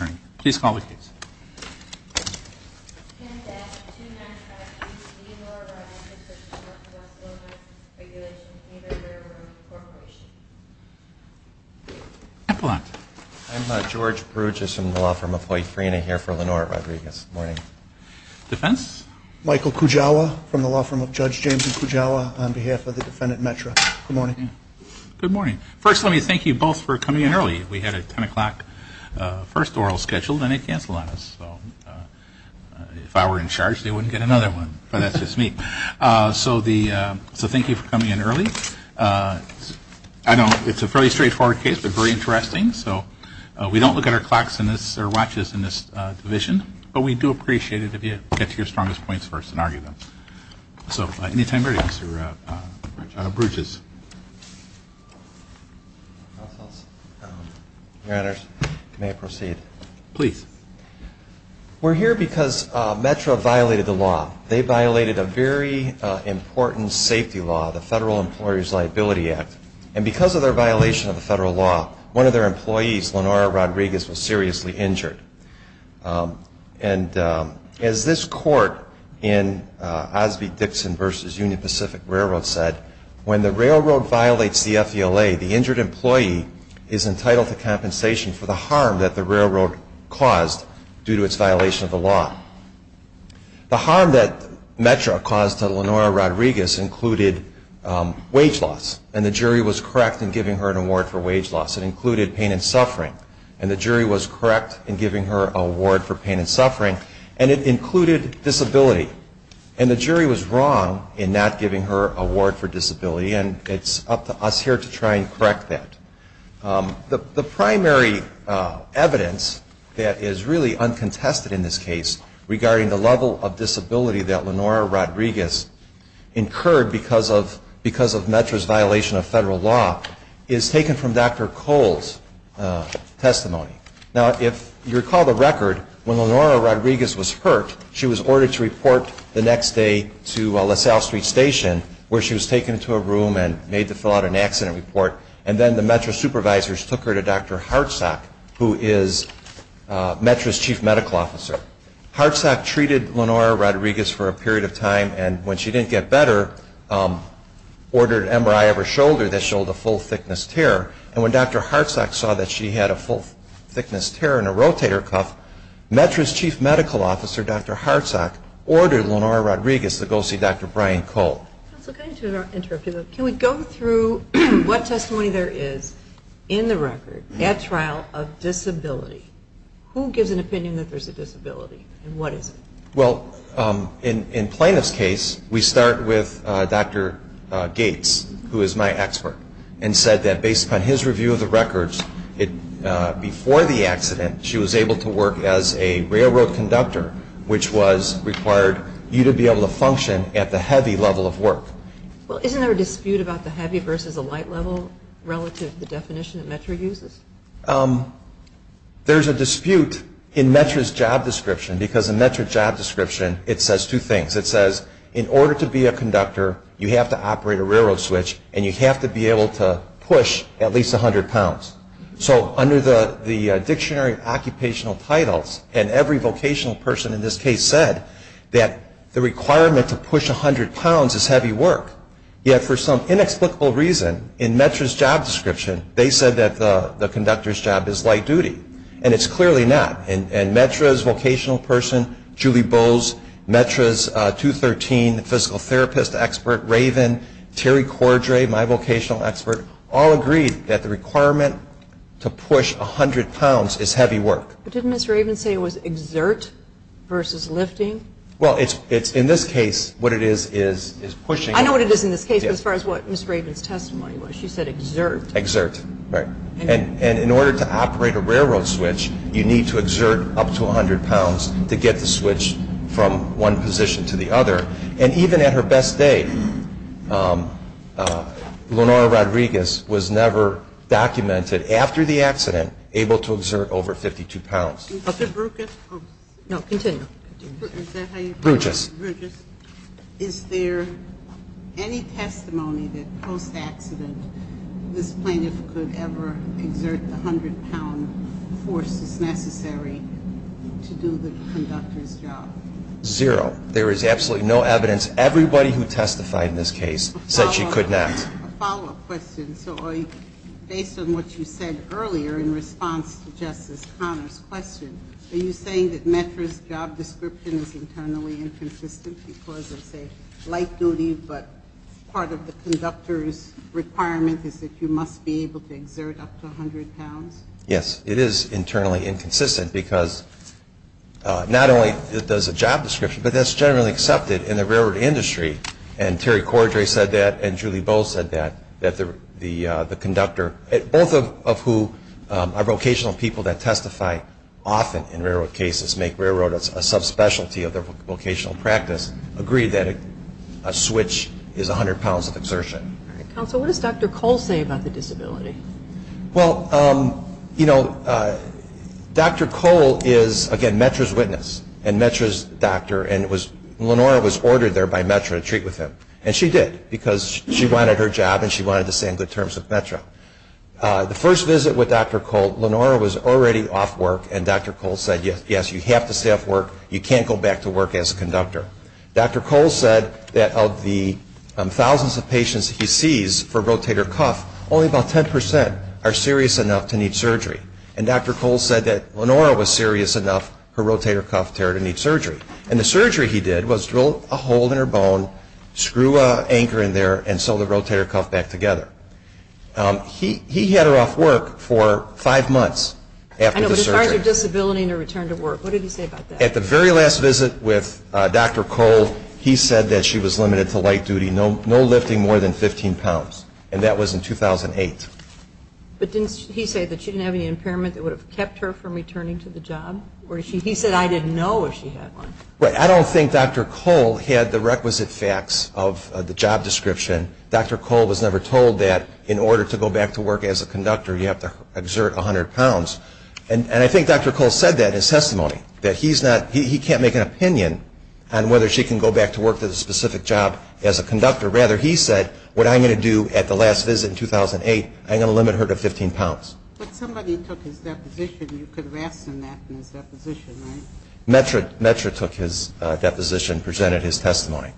I'm George Bruges from the law firm of Hoi Frina here for Lenore Rodriguez. Defense? Michael Kujawa from the law firm of Judge James M. Kujawa on behalf of the defendant METRA. Good morning. Good morning. First, let me thank you both for coming in early. We had a 10 o'clock first oral scheduled and it canceled on us. So if I were in charge, they wouldn't get another one, but that's just me. So thank you for coming in early. It's a fairly straightforward case but very interesting. So we don't look at our clocks or watches in this division, but we do appreciate it if you get to your strongest points first and argue them. So at any time, Mr. Bruges. Your Honors, may I proceed? Please. We're here because METRA violated the law. They violated a very important safety law, the Federal Employer's Liability Act. And because of their violation of the federal law, one of their employees, Lenore Rodriguez, was seriously injured. And as this court in Osby-Dixon v. Union Pacific Railroad said, when the railroad violates the FVLA, the injured employee is entitled to compensation for the harm that the railroad caused due to its violation of the law. The harm that METRA caused to Lenore Rodriguez included wage loss, and the jury was correct in giving her an award for wage loss. It included pain and suffering, and the jury was correct in giving her an award for pain and suffering, and it included disability. And the jury was wrong in not giving her an award for disability, and it's up to us here to try and correct that. The primary evidence that is really uncontested in this case regarding the level of disability that Lenore Rodriguez incurred because of METRA's violation of federal law is taken from Dr. Cole's testimony. Now, if you recall the record, when Lenore Rodriguez was hurt, she was ordered to report the next day to LaSalle Street Station, where she was taken to a room and made to fill out an accident report, and then the METRA supervisors took her to Dr. Hartsock, who is METRA's chief medical officer. Hartsock treated Lenore Rodriguez for a period of time, and when she didn't get better, ordered an MRI of her shoulder that showed a full thickness tear, and when Dr. Hartsock saw that she had a full thickness tear in her rotator cuff, METRA's chief medical officer, Dr. Hartsock, ordered Lenore Rodriguez to go see Dr. Brian Cole. Can we go through what testimony there is in the record at trial of disability? Who gives an opinion that there's a disability, and what is it? Well, in plaintiff's case, we start with Dr. Gates, who is my expert, and said that based upon his review of the records, before the accident, she was able to work as a railroad conductor, which required you to be able to function at the heavy level of work. Well, isn't there a dispute about the heavy versus the light level relative to the definition that METRA uses? There's a dispute in METRA's job description, because in METRA's job description, it says two things. It says, in order to be a conductor, you have to operate a railroad switch, and you have to be able to push at least 100 pounds. So, under the dictionary of occupational titles, and every vocational person in this case said, that the requirement to push 100 pounds is heavy work. Yet, for some inexplicable reason, in METRA's job description, they said that the conductor's job is light duty, and it's clearly not. And METRA's vocational person, Julie Bowes, METRA's 213 physical therapist expert, Raven, Terry Cordray, my vocational expert, all agreed that the requirement to push 100 pounds is heavy work. But didn't Ms. Raven say it was exert versus lifting? Well, in this case, what it is, is pushing. I know what it is in this case, as far as what Ms. Raven's testimony was. She said exert. Exert, right. And in order to operate a railroad switch, you need to exert up to 100 pounds to get the switch from one position to the other. And even at her best day, Lenora Rodriguez was never documented, after the accident, able to exert over 52 pounds. Is there any testimony that, post-accident, this plaintiff could ever exert the 100-pound force that's necessary to do the conductor's job? Zero. There is absolutely no evidence. Everybody who testified in this case said she could not. A follow-up question. So based on what you said earlier in response to Justice Conner's question, are you saying that METRA's job description is internally inconsistent because it's a light duty but part of the conductor's requirement is that you must be able to exert up to 100 pounds? Yes. It is internally inconsistent because not only does it have a job description, but that's generally accepted in the railroad industry. And Terry Cordray said that, and Julie Bowles said that, that the conductor, both of whom are vocational people that testify often in railroad cases, make railroad a subspecialty of their vocational practice, agree that a switch is 100 pounds of exertion. All right. Counsel, what does Dr. Cole say about the disability? Well, you know, Dr. Cole is, again, METRA's witness and METRA's doctor, and Lenora was ordered there by METRA to treat with him. And she did because she wanted her job and she wanted to stay on good terms with METRA. The first visit with Dr. Cole, Lenora was already off work, and Dr. Cole said, yes, you have to stay off work, you can't go back to work as a conductor. Dr. Cole said that of the thousands of patients he sees for rotator cuff, only about 10% are serious enough to need surgery. And Dr. Cole said that Lenora was serious enough for rotator cuff terror to need surgery. And the surgery he did was drill a hole in her bone, screw an anchor in there, and sew the rotator cuff back together. He had her off work for five months after the surgery. What did he say about her disability and her return to work? What did he say about that? At the very last visit with Dr. Cole, he said that she was limited to light duty, no lifting more than 15 pounds, and that was in 2008. But didn't he say that she didn't have any impairment that would have kept her from returning to the job? He said, I didn't know if she had one. I don't think Dr. Cole had the requisite facts of the job description. Dr. Cole was never told that in order to go back to work as a conductor, you have to exert 100 pounds. And I think Dr. Cole said that in his testimony, that he can't make an opinion on whether she can go back to work at a specific job as a conductor. Rather, he said, what I'm going to do at the last visit in 2008, I'm going to limit her to 15 pounds. But somebody took his deposition. You could have asked him that in his deposition, right? METRA took his deposition and presented his testimony.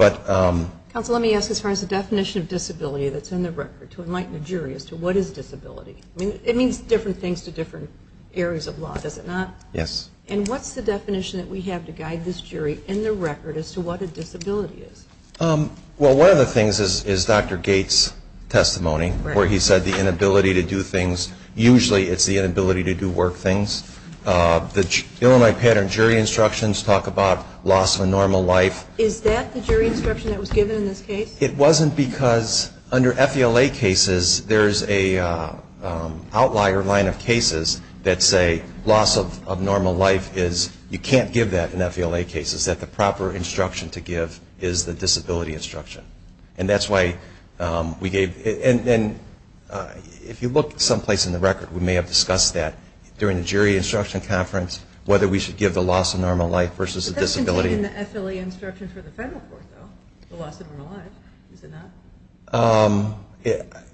Counsel, let me ask as far as the definition of disability that's in the record. To enlighten a jury as to what is disability. I mean, it means different things to different areas of law, does it not? Yes. And what's the definition that we have to guide this jury in the record as to what a disability is? Well, one of the things is Dr. Gates' testimony, where he said the inability to do things, usually it's the inability to do work things. The Illini pattern jury instructions talk about loss of a normal life. Is that the jury instruction that was given in this case? It wasn't because under FELA cases, there's an outlier line of cases that say loss of normal life is, you can't give that in FELA cases, that the proper instruction to give is the disability instruction. And that's why we gave, and if you look someplace in the record, we may have discussed that during the jury instruction conference, whether we should give the loss of normal life versus a disability. It wasn't in the FELA instruction for the federal court, though, the loss of normal life. Is it not?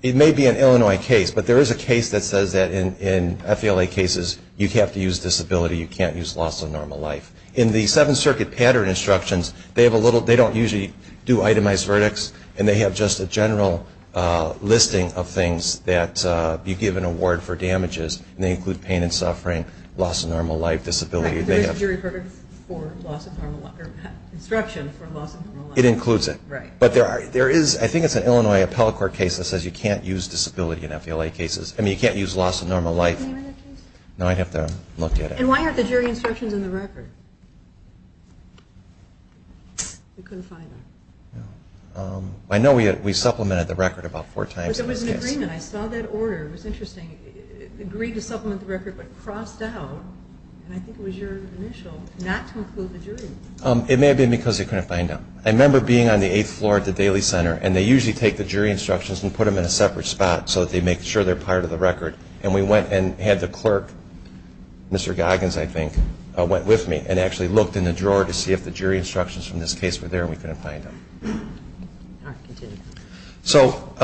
It may be an Illinois case, but there is a case that says that in FELA cases, you have to use disability, you can't use loss of normal life. In the Seventh Circuit pattern instructions, they don't usually do itemized verdicts, and they have just a general listing of things that you give an award for damages, and they include pain and suffering, loss of normal life, disability. There is a jury verdict for loss of normal life, or instruction for loss of normal life. It includes it. Right. But there is, I think it's an Illinois appellate court case that says you can't use disability in FELA cases. I mean, you can't use loss of normal life. Have you read that case? No, I'd have to look at it. And why aren't the jury instructions in the record? We couldn't find them. I know we supplemented the record about four times in this case. But there was an agreement. I saw that order. It was interesting. They agreed to supplement the record but crossed out, and I think it was your initial, not to include the jury. It may have been because they couldn't find them. I remember being on the eighth floor at the Daly Center, and they usually take the jury instructions and put them in a separate spot so that they make sure they're part of the record. And we went and had the clerk, Mr. Goggins, I think, went with me and actually looked in the drawer to see if the jury instructions from this case were there, and we couldn't find them. All right. Continue. So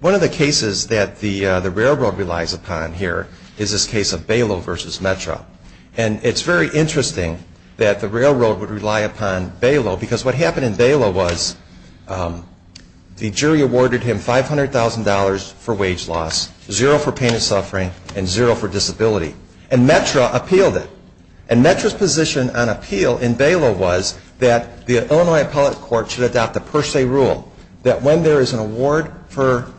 one of the cases that the railroad relies upon here is this case of Balo versus METRA. And it's very interesting that the railroad would rely upon Balo because what happened in Balo was the jury awarded him $500,000 for wage loss, zero for pain and suffering, and zero for disability. And METRA appealed it. And METRA's position on appeal in Balo was that the Illinois Appellate Court should adopt a per se rule that when there is an award for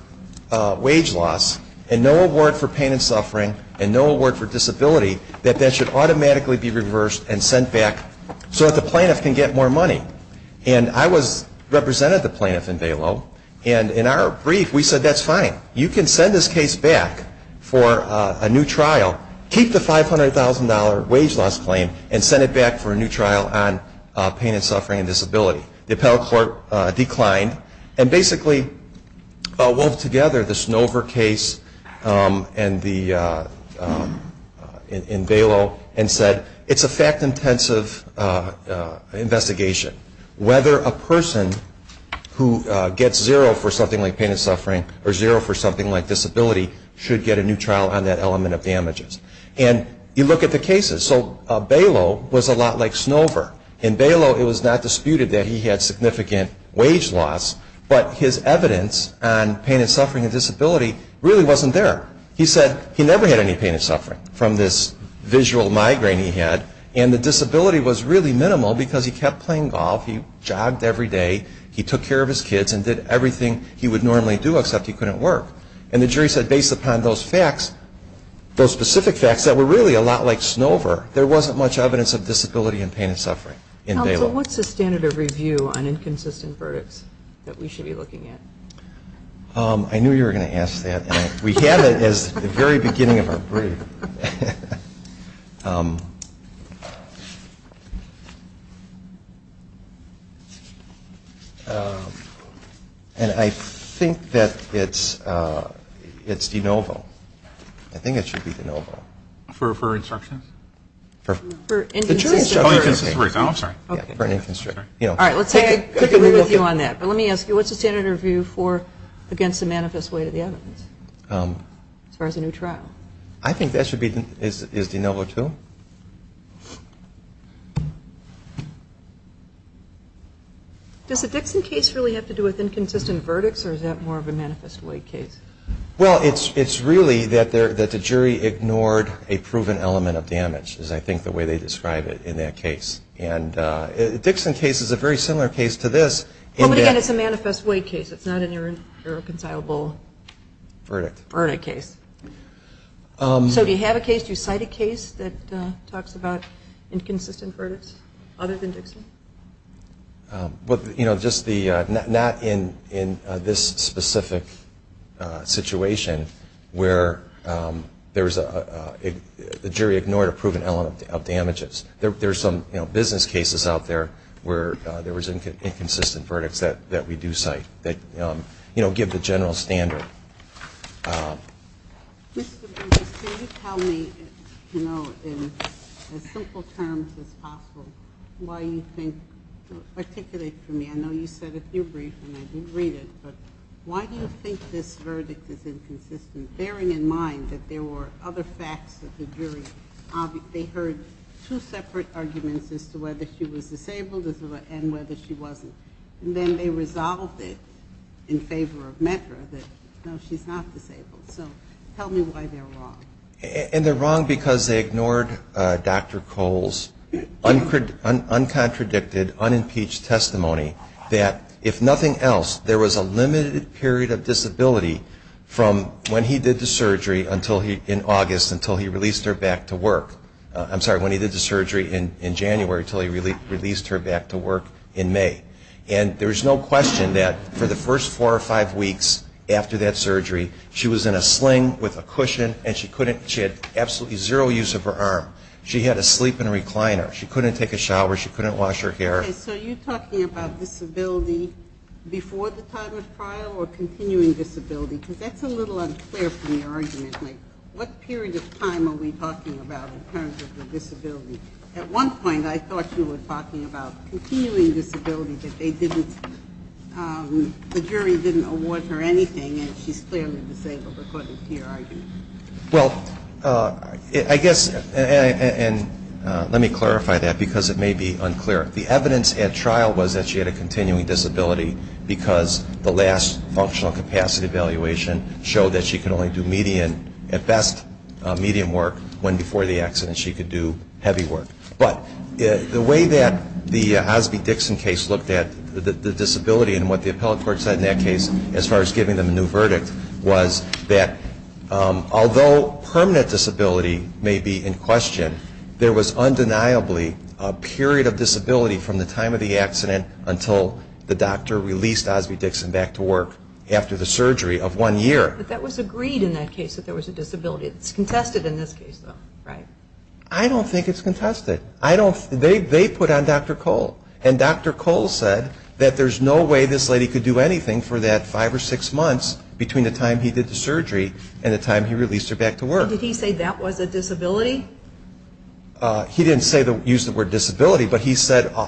wage loss and no award for pain and suffering and no award for disability, that that should automatically be reversed and sent back so that the plaintiff can get more money. And I represented the plaintiff in Balo, and in our brief, we said that's fine. You can send this case back for a new trial. Keep the $500,000 wage loss claim and send it back for a new trial on pain and suffering and disability. The Appellate Court declined and basically wove together the Snover case in Balo and said it's a fact-intensive investigation. Whether a person who gets zero for something like pain and suffering or zero for something like disability should get a new trial on that element of damages. And you look at the cases. So Balo was a lot like Snover. In Balo, it was not disputed that he had significant wage loss, but his evidence on pain and suffering and disability really wasn't there. He said he never had any pain and suffering from this visual migraine he had, and the disability was really minimal because he kept playing golf. He jogged every day. He took care of his kids and did everything he would normally do except he couldn't work. And the jury said based upon those facts, those specific facts that were really a lot like Snover, there wasn't much evidence of disability and pain and suffering in Balo. So what's the standard of review on inconsistent verdicts that we should be looking at? I knew you were going to ask that. We have it as the very beginning of our brief. And I think that it's de novo. I think it should be de novo. For instructions? For inconsistent verdicts. Oh, inconsistent verdicts. Oh, I'm sorry. All right, let's take a quick review on that. Let me ask you, what's the standard of review for against the manifest weight of the evidence as far as a new trial? I think that should be de novo too. Does the Dixon case really have to do with inconsistent verdicts or is that more of a manifest weight case? Well, it's really that the jury ignored a proven element of damage is I think the way they describe it in that case. And the Dixon case is a very similar case to this. Well, but again, it's a manifest weight case. It's not an irreconcilable verdict case. So do you have a case, do you cite a case that talks about inconsistent verdicts other than Dixon? Well, you know, not in this specific situation where the jury ignored a proven element of damages. There's some business cases out there where there was inconsistent verdicts that we do cite that, you know, give the general standard. Mr. Briggs, can you tell me, you know, in as simple terms as possible, why you think, articulate for me. I know you said a few briefings. I didn't read it. But why do you think this verdict is inconsistent, bearing in mind that there were other facts that the jury, they heard two separate arguments as to whether she was disabled and whether she wasn't. And then they resolved it in favor of Metro that, no, she's not disabled. So tell me why they're wrong. And they're wrong because they ignored Dr. Cole's uncontradicted, unimpeached testimony that if nothing else, there was a limited period of disability from when he did the surgery in August until he released her back to work. I'm sorry, when he did the surgery in January until he released her back to work in May. And there's no question that for the first four or five weeks after that surgery she was in a sling with a cushion and she had absolutely zero use of her arm. She had to sleep in a recliner. She couldn't take a shower. She couldn't wash her hair. Okay, so you're talking about disability before the time of trial or continuing disability? Because that's a little unclear from your argument. Like what period of time are we talking about in terms of the disability? At one point I thought you were talking about continuing disability, that they didn't, the jury didn't award her anything and she's clearly disabled according to your argument. Well, I guess, and let me clarify that because it may be unclear. The evidence at trial was that she had a continuing disability because the last functional capacity evaluation showed that she could only do median, at best, medium work when before the accident she could do heavy work. But the way that the Osby-Dixon case looked at the disability and what the appellate court said in that case as far as giving them a new verdict was that although permanent disability may be in question, there was undeniably a period of disability from the time of the accident until the doctor released Osby-Dixon back to work after the surgery of one year. But that was agreed in that case that there was a disability. It's contested in this case though, right? I don't think it's contested. They put on Dr. Cole. And Dr. Cole said that there's no way this lady could do anything for that five or six months between the time he did the surgery and the time he released her back to work. So did he say that was a disability? He didn't use the word disability, but he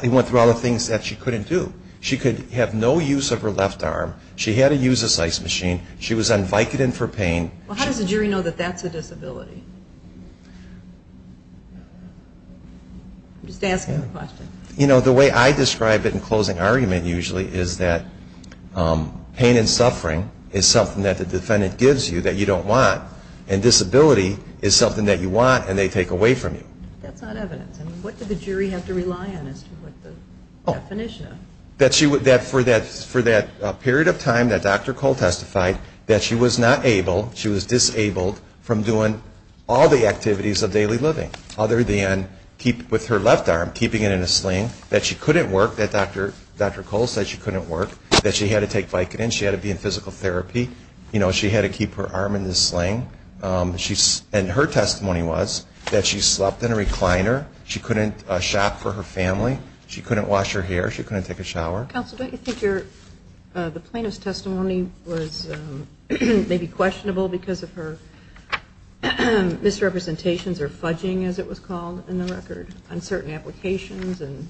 went through all the things that she couldn't do. She could have no use of her left arm. She had to use a size machine. She was on Vicodin for pain. How does the jury know that that's a disability? I'm just asking the question. You know, the way I describe it in closing argument usually is that pain and suffering is something that the defendant gives you that you don't want, and disability is something that you want and they take away from you. That's not evidence. What did the jury have to rely on as to what the definition of? That for that period of time that Dr. Cole testified that she was not able, she was disabled from doing all the activities of daily living other than with her left arm, keeping it in a sling, that she couldn't work, that Dr. Cole said she couldn't work, that she had to take Vicodin, she had to be in physical therapy, you know, she had to keep her arm in the sling. And her testimony was that she slept in a recliner, she couldn't shop for her family, she couldn't wash her hair, she couldn't take a shower. Counsel, don't you think the plaintiff's testimony was maybe questionable because of her misrepresentations or fudging, as it was called in the record, on certain applications and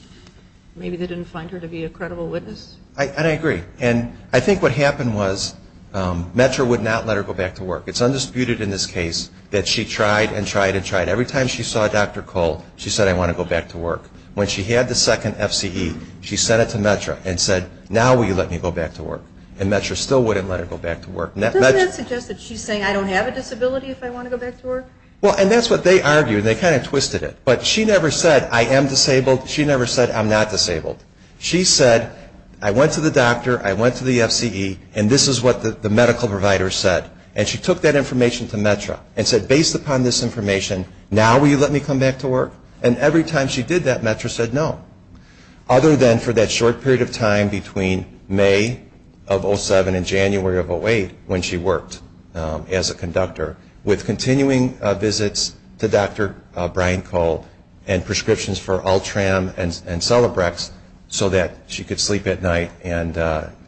maybe they didn't find her to be a credible witness? And I agree. And I think what happened was METRA would not let her go back to work. It's undisputed in this case that she tried and tried and tried. Every time she saw Dr. Cole, she said, I want to go back to work. When she had the second FCE, she sent it to METRA and said, now will you let me go back to work? And METRA still wouldn't let her go back to work. Doesn't that suggest that she's saying I don't have a disability if I want to go back to work? Well, and that's what they argued. They kind of twisted it. But she never said, I am disabled. She never said, I'm not disabled. She said, I went to the doctor, I went to the FCE, and this is what the medical provider said. And she took that information to METRA and said, based upon this information, now will you let me come back to work? And every time she did that, METRA said no. Other than for that short period of time between May of 07 and January of 08, when she worked as a conductor, with continuing visits to Dr. Brian Cole and prescriptions for Ultram and Celebrex so that she could sleep at night and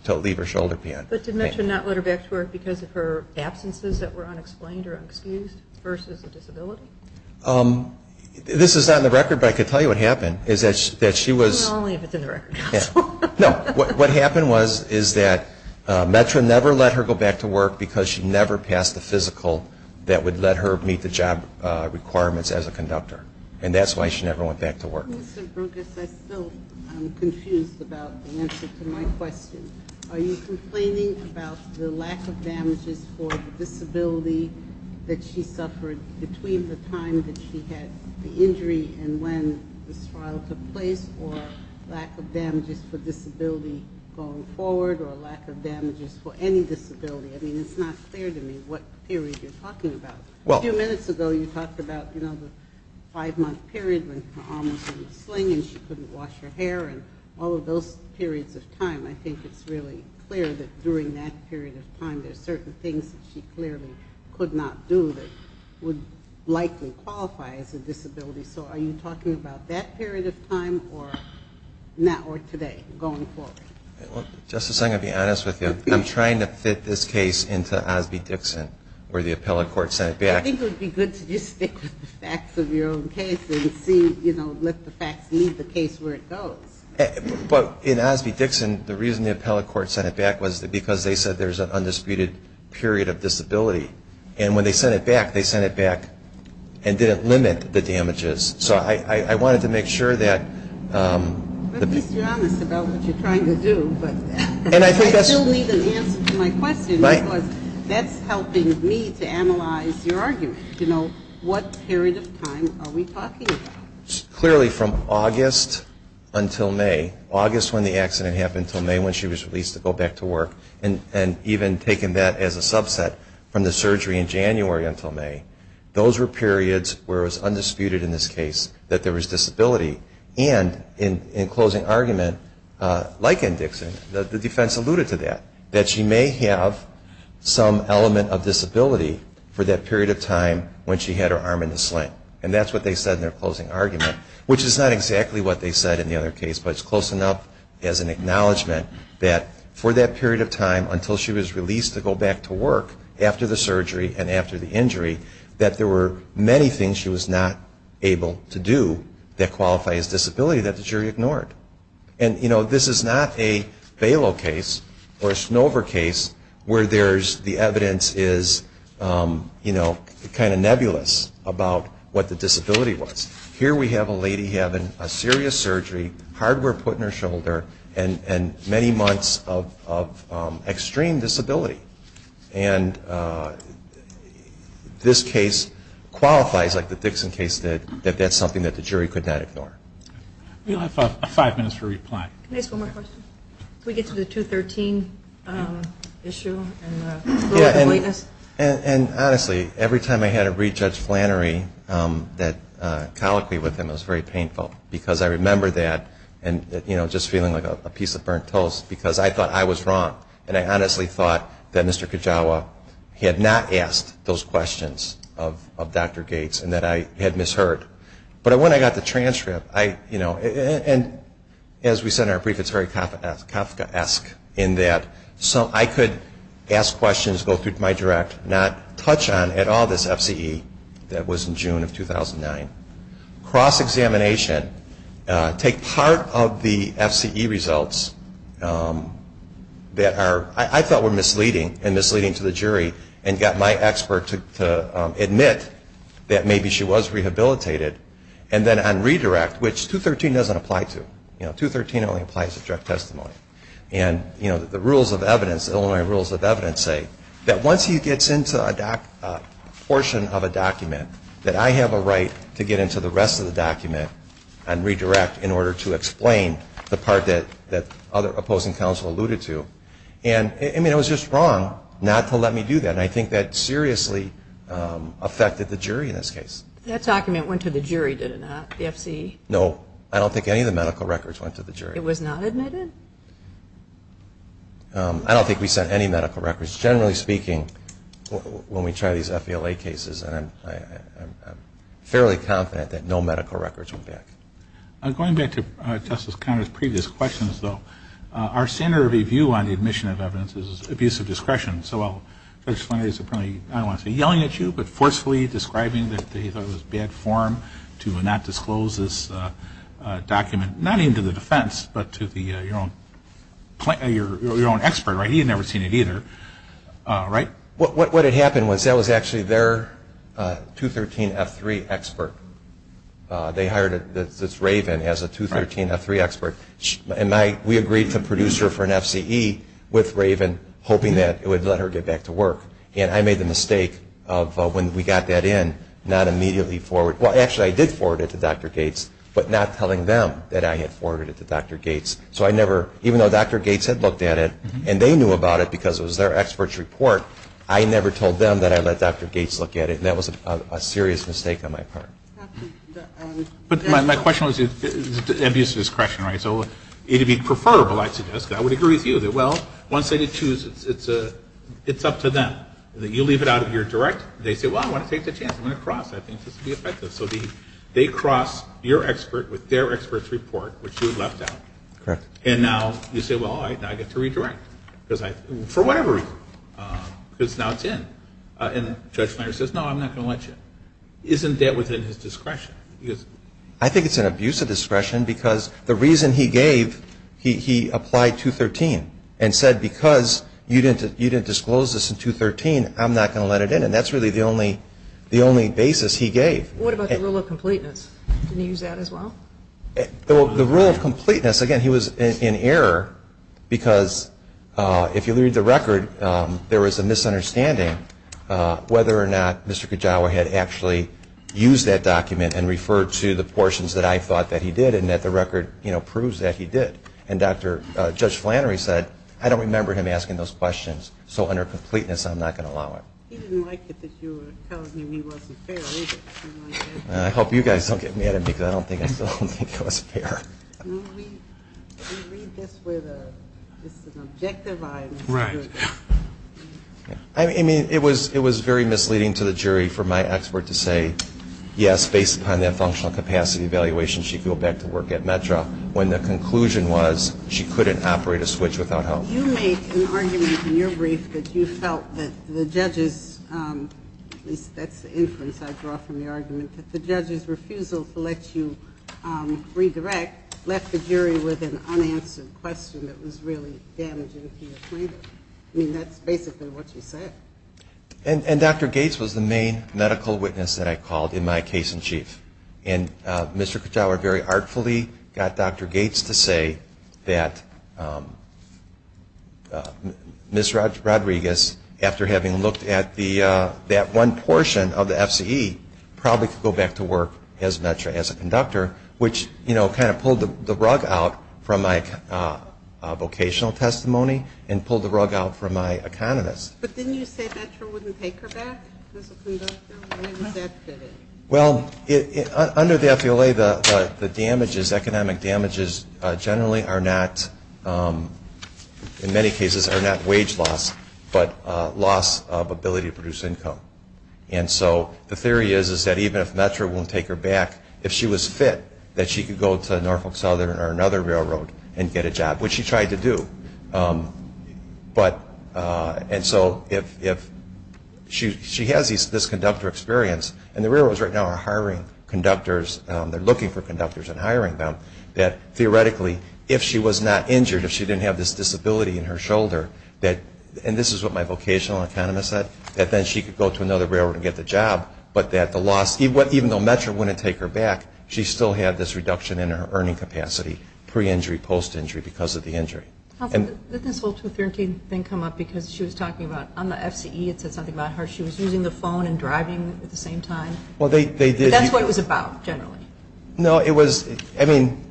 leave her shoulder pain. But did METRA not let her back to work because of her absences that were unexplained or unexcused versus a disability? This is not in the record, but I can tell you what happened. Not only if it's in the record. No. What happened was that METRA never let her go back to work because she never passed the physical that would let her meet the job requirements as a conductor. And that's why she never went back to work. Mr. Brugess, I'm still confused about the answer to my question. Are you complaining about the lack of damages for the disability that she suffered between the time that she had the injury and when this trial took place or lack of damages for disability going forward or lack of damages for any disability? I mean, it's not clear to me what period you're talking about. A few minutes ago you talked about the five-month period when her arm was in a sling and she couldn't wash her hair and all of those periods of time. I think it's really clear that during that period of time there are certain things that she clearly could not do that would likely qualify as a disability. So are you talking about that period of time or today going forward? Justice, I'm going to be honest with you. I'm trying to fit this case into Osby-Dixon where the appellate court sent it back. I think it would be good to just stick with the facts of your own case and let the facts lead the case where it goes. But in Osby-Dixon, the reason the appellate court sent it back was because they said there's an undisputed period of disability. And when they sent it back, they sent it back and didn't limit the damages. So I wanted to make sure that... At least you're honest about what you're trying to do. I still need an answer to my question because that's helping me to analyze your argument, to know what period of time are we talking about. Clearly from August until May, August when the accident happened, until May when she was released to go back to work, and even taking that as a subset from the surgery in January until May, those were periods where it was undisputed in this case that there was disability. And in closing argument, like in Dixon, the defense alluded to that, that she may have some element of disability for that period of time when she had her arm in the sling. And that's what they said in their closing argument, which is not exactly what they said in the other case, but it's close enough as an acknowledgment that for that period of time that there were many things she was not able to do that qualify as disability that the jury ignored. And, you know, this is not a Balo case or a Snover case where the evidence is kind of nebulous about what the disability was. Here we have a lady having a serious surgery, hardware put in her shoulder, and many months of extreme disability. And this case qualifies, like the Dixon case did, that that's something that the jury could not ignore. We'll have five minutes for reply. Can I ask one more question? Can we get to the 213 issue and the lightness? And honestly, every time I had to read Judge Flannery, that colloquy with him was very painful because I remember that and just feeling like a piece of burnt toast because I thought I was wrong and I honestly thought that Mr. Kajawa had not asked those questions of Dr. Gates and that I had misheard. But when I got the transcript, you know, and as we said in our brief, it's very Kafkaesque in that I could ask questions, go through my direct, not touch on at all this FCE that was in June of 2009. Cross-examination. Take part of the FCE results that I thought were misleading and misleading to the jury and got my expert to admit that maybe she was rehabilitated. And then on redirect, which 213 doesn't apply to. You know, 213 only applies to direct testimony. And, you know, the rules of evidence, Illinois rules of evidence say that once he gets into a portion of a document, that I have a right to get into the rest of the document and redirect in order to explain the part that other opposing counsel alluded to. And, I mean, it was just wrong not to let me do that. And I think that seriously affected the jury in this case. That document went to the jury, did it not, the FCE? No. I don't think any of the medical records went to the jury. It was not admitted? I don't think we sent any medical records. Generally speaking, when we try these FELA cases, I'm fairly confident that no medical records went back. Going back to Justice Conner's previous questions, though, our standard of review on the admission of evidence is abuse of discretion. So I'll try to explain this. Apparently, I don't want to say yelling at you, but forcefully describing that he thought it was bad form to not disclose this document, not even to the defense, but to your own expert, right? He had never seen it either, right? What had happened was that was actually their 213F3 expert. They hired Raven as a 213F3 expert. And we agreed to produce her for an FCE with Raven, hoping that it would let her get back to work. And I made the mistake of, when we got that in, not immediately forward. Well, actually, I did forward it to Dr. Gates, but not telling them that I had forwarded it to Dr. Gates. So I never, even though Dr. Gates had looked at it, and they knew about it because it was their expert's report, I never told them that I let Dr. Gates look at it. And that was a serious mistake on my part. But my question was abuse of discretion, right? So it would be preferable, I'd suggest. I would agree with you that, well, once they choose, it's up to them. You leave it out of your direct. They say, well, I want to take the chance. I'm going to cross. I think this will be effective. So they cross your expert with their expert's report, which you left out. Correct. And now you say, well, I get to redirect, for whatever reason, because now it's in. And Judge Meyer says, no, I'm not going to let you. Isn't that within his discretion? I think it's an abuse of discretion because the reason he gave, he applied 213 and said, because you didn't disclose this in 213, I'm not going to let it in. And that's really the only basis he gave. What about the rule of completeness? Didn't he use that as well? The rule of completeness, again, he was in error because, if you read the record, there was a misunderstanding whether or not Mr. Kajawa had actually used that document and referred to the portions that I thought that he did and that the record proves that he did. And Judge Flannery said, I don't remember him asking those questions, so under completeness, I'm not going to allow it. He didn't like it that you were telling him he wasn't fair, did he? I hope you guys don't get mad at me because I still don't think it was fair. We read this with an objective eye. Right. I mean, it was very misleading to the jury for my expert to say, yes, based upon that functional capacity evaluation, she could go back to work at METRA, when the conclusion was she couldn't operate a switch without help. Well, you make an argument in your brief that you felt that the judge's, at least that's the inference I draw from the argument, that the judge's refusal to let you redirect left the jury with an unanswered question that was really damaging to the plaintiff. I mean, that's basically what you said. And Dr. Gates was the main medical witness that I called in my case in chief. And Mr. Kachaur very artfully got Dr. Gates to say that Ms. Rodriguez, after having looked at that one portion of the FCE, probably could go back to work at METRA as a conductor, which kind of pulled the rug out from my vocational testimony and pulled the rug out from my economist. But didn't you say METRA wouldn't take her back as a conductor? Well, under the FELA, the damages, economic damages generally are not, in many cases are not wage loss, but loss of ability to produce income. And so the theory is that even if METRA won't take her back, if she was fit, that she could go to Norfolk Southern or another railroad and get a job, which she tried to do. And so if she has this conductor experience, and the railroads right now are hiring conductors, they're looking for conductors and hiring them, that theoretically if she was not injured, if she didn't have this disability in her shoulder, and this is what my vocational economist said, that then she could go to another railroad and get the job, but that the loss, even though METRA wouldn't take her back, she still had this reduction in her earning capacity, pre-injury, post-injury, because of the injury. How did this whole 213 thing come up? Because she was talking about on the FCE, it said something about her, she was using the phone and driving at the same time. Well, they did. But that's what it was about, generally. No, it was, I mean,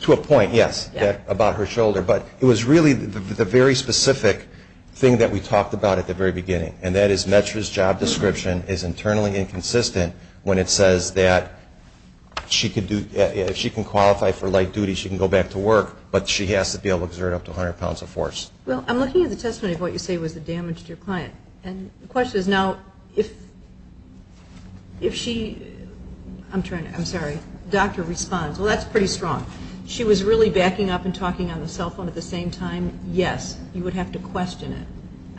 to a point, yes, about her shoulder, but it was really the very specific thing that we talked about at the very beginning, and that is METRA's job description is internally inconsistent when it says that if she can qualify for light duty, she can go back to work, but she has to be able to exert up to 100 pounds of force. Well, I'm looking at the testimony of what you say was the damage to your client, and the question is, now, if she, I'm sorry, doctor responds, well, that's pretty strong. She was really backing up and talking on the cell phone at the same time? Yes. You would have to question it.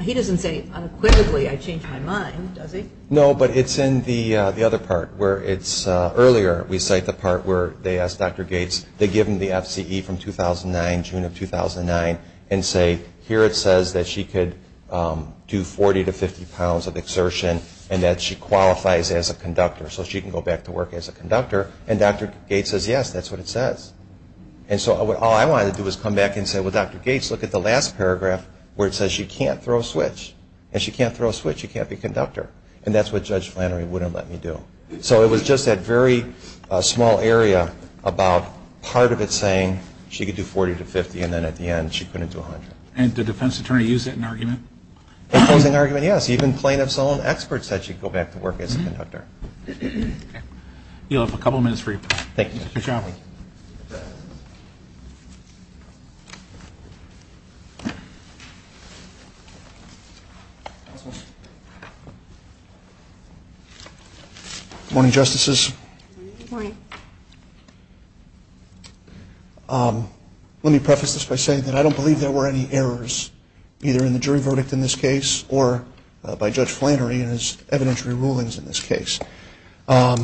He doesn't say, unequivocally, I changed my mind, does he? No, but it's in the other part where it's earlier, we cite the part where they ask Dr. Gates, they give him the FCE from 2009, June of 2009, and say, here it says that she could do 40 to 50 pounds of exertion and that she qualifies as a conductor, so she can go back to work as a conductor, and Dr. Gates says, yes, that's what it says. And so all I wanted to do was come back and say, well, Dr. Gates, look at the last paragraph where it says she can't throw a switch, and she can't throw a switch, she can't be a conductor, and that's what Judge Flannery wouldn't let me do. So it was just that very small area about part of it saying she could do 40 to 50 and then at the end she couldn't do 100. And did the defense attorney use that in argument? In closing argument, yes. Even plaintiff's own expert said she could go back to work as a conductor. You'll have a couple of minutes for your question. Thank you. Good job. Good morning. Good morning, Justices. Good morning. Let me preface this by saying that I don't believe there were any errors, either in the jury verdict in this case or by Judge Flannery in his evidentiary rulings in this case. But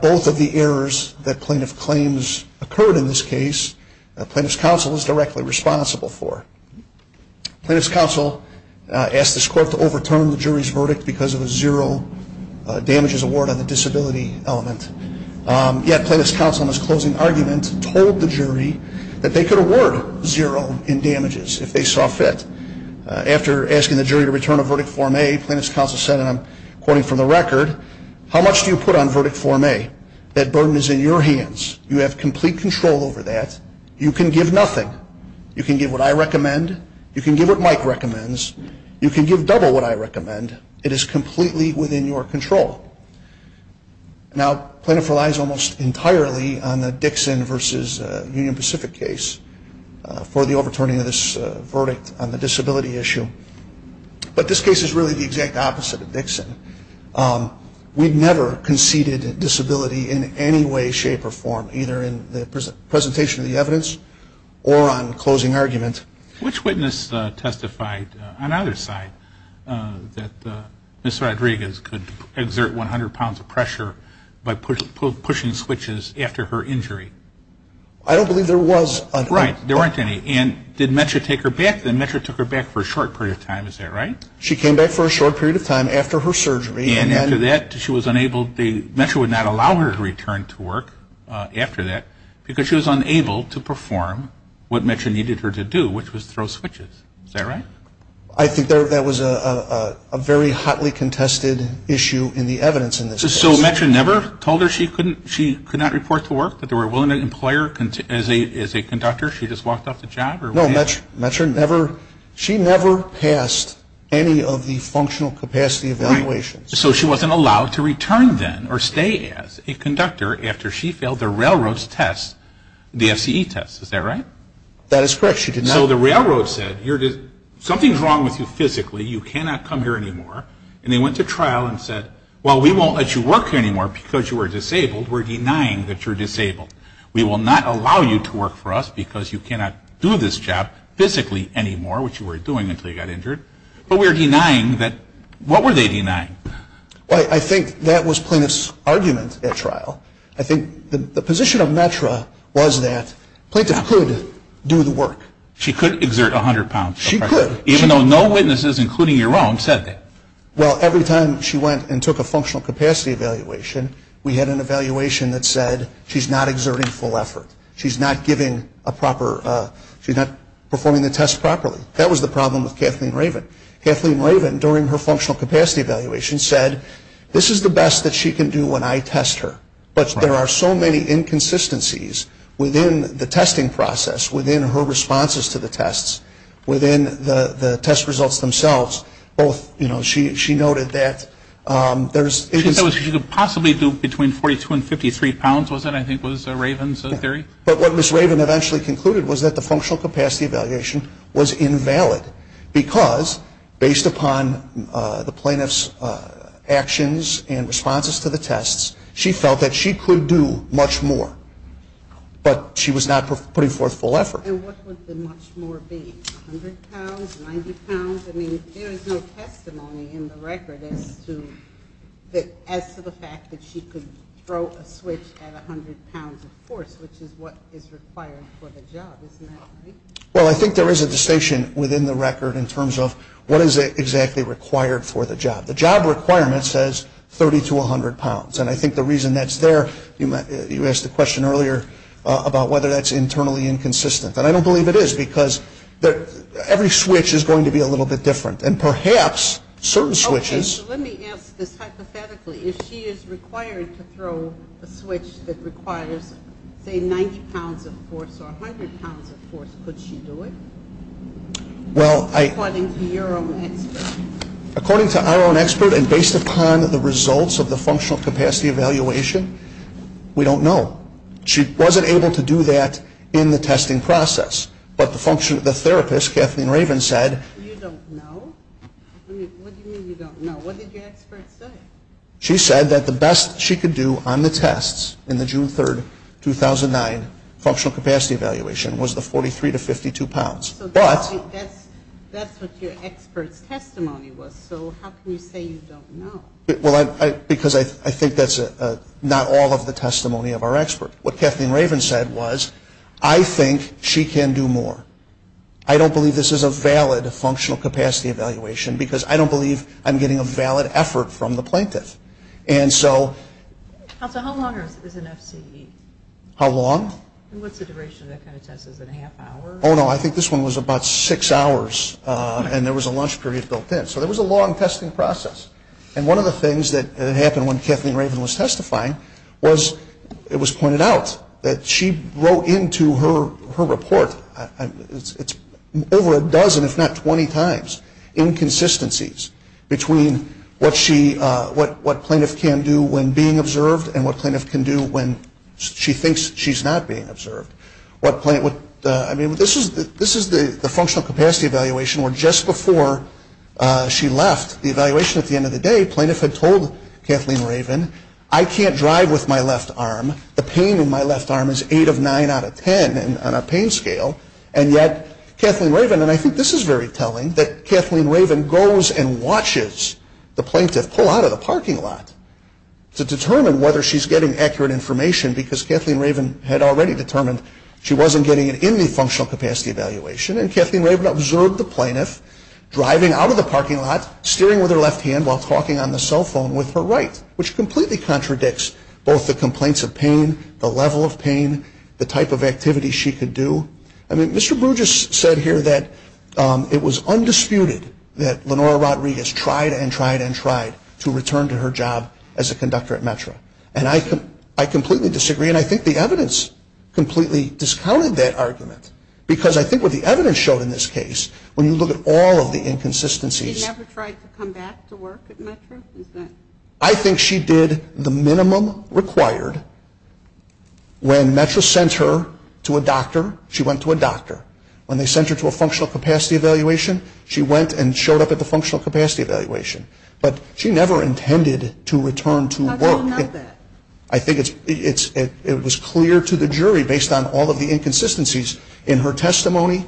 both of the errors that plaintiff claims occurred in this case, plaintiff's counsel is directly responsible for. Plaintiff's counsel asked this court to overturn the jury's verdict because of a zero damages award on the disability element. Yet plaintiff's counsel in his closing argument told the jury that they could award zero in damages if they saw fit. After asking the jury to return a verdict form A, plaintiff's counsel said, and I'm quoting from the record, how much do you put on verdict form A? That burden is in your hands. You have complete control over that. You can give nothing. You can give what I recommend. You can give what Mike recommends. You can give double what I recommend. It is completely within your control. Now, plaintiff relies almost entirely on the Dixon versus Union Pacific case for the overturning of this verdict on the disability issue. But this case is really the exact opposite of Dixon. We've never conceded disability in any way, shape, or form either in the presentation of the evidence or on closing argument. Which witness testified on either side that Ms. Rodriguez could exert 100 pounds of pressure by pushing switches after her injury? I don't believe there was. Right. There weren't any. And did Metro take her back? Metro took her back for a short period of time. Is that right? She came back for a short period of time after her surgery. And after that, Metro would not allow her to return to work after that because she was unable to perform what Metro needed her to do, which was throw switches. Is that right? I think that was a very hotly contested issue in the evidence in this case. So Metro never told her she could not report to work, that they were willing to employ her as a conductor? She just walked off the job? No, Metro never passed any of the functional capacity evaluations. So she wasn't allowed to return then or stay as a conductor after she failed the railroad's test, the FCE test. Is that right? That is correct. So the railroad said, something's wrong with you physically. You cannot come here anymore. And they went to trial and said, well, we won't let you work here anymore because you are disabled. We're denying that you're disabled. We will not allow you to work for us because you cannot do this job physically anymore, which you were doing until you got injured. But we're denying that. What were they denying? I think that was Plaintiff's argument at trial. I think the position of Metro was that Plaintiff could do the work. She could exert 100 pounds. She could. Even though no witnesses, including your own, said that. Well, every time she went and took a functional capacity evaluation, we had an evaluation that said she's not exerting full effort. She's not performing the test properly. That was the problem with Kathleen Raven. Kathleen Raven, during her functional capacity evaluation, said this is the best that she can do when I test her. But there are so many inconsistencies within the testing process, within her responses to the tests, within the test results themselves. She noted that there's – She said she could possibly do between 42 and 53 pounds, was that, I think, was Raven's theory? But what Ms. Raven eventually concluded was that the functional capacity evaluation was invalid because, based upon the Plaintiff's actions and responses to the tests, she felt that she could do much more. But she was not putting forth full effort. And what would the much more be, 100 pounds, 90 pounds? I mean, there is no testimony in the record as to the fact that she could throw a switch at 100 pounds of force, which is what is required for the job, isn't that right? Well, I think there is a distinction within the record in terms of what is exactly required for the job. The job requirement says 30 to 100 pounds. And I think the reason that's there – you asked the question earlier about whether that's internally inconsistent. And I don't believe it is because every switch is going to be a little bit different. And perhaps certain switches – Okay, so let me ask this hypothetically. If she is required to throw a switch that requires, say, 90 pounds of force or 100 pounds of force, could she do it? Well, I – According to your own expert. According to our own expert and based upon the results of the functional capacity evaluation, we don't know. She wasn't able to do that in the testing process. But the therapist, Kathleen Raven, said – You don't know? What do you mean you don't know? What did your expert say? She said that the best she could do on the tests in the June 3, 2009, functional capacity evaluation was the 43 to 52 pounds. So that's what your expert's testimony was. So how can you say you don't know? Because I think that's not all of the testimony of our expert. What Kathleen Raven said was, I think she can do more. I don't believe this is a valid functional capacity evaluation because I don't believe I'm getting a valid effort from the plaintiff. And so – How long is an FCE? How long? What's the duration of that kind of test? Is it a half hour? Oh, no, I think this one was about six hours. And there was a lunch period built in. So there was a long testing process. And one of the things that happened when Kathleen Raven was testifying was, it was pointed out that she wrote into her report – it's over a dozen if not 20 times – inconsistencies between what plaintiff can do when being observed and what plaintiff can do when she thinks she's not being observed. I mean, this is the functional capacity evaluation where just before she left the evaluation at the end of the day, plaintiff had told Kathleen Raven, I can't drive with my left arm. The pain in my left arm is eight of nine out of ten on a pain scale. And yet Kathleen Raven – and I think this is very telling – that Kathleen Raven goes and watches the plaintiff pull out of the parking lot to determine whether she's getting accurate information because Kathleen Raven had already determined she wasn't getting it in the functional capacity evaluation. And Kathleen Raven observed the plaintiff driving out of the parking lot, steering with her left hand while talking on the cell phone with her right, which completely contradicts both the complaints of pain, the level of pain, the type of activity she could do. I mean, Mr. Bruges said here that it was undisputed that Lenora Rodriguez And I completely disagree, and I think the evidence completely discounted that argument. Because I think what the evidence showed in this case, when you look at all of the inconsistencies – She never tried to come back to work at METRA? I think she did the minimum required. When METRA sent her to a doctor, she went to a doctor. When they sent her to a functional capacity evaluation, she went and showed up at the functional capacity evaluation. But she never intended to return to work. How do you know that? I think it was clear to the jury, based on all of the inconsistencies in her testimony,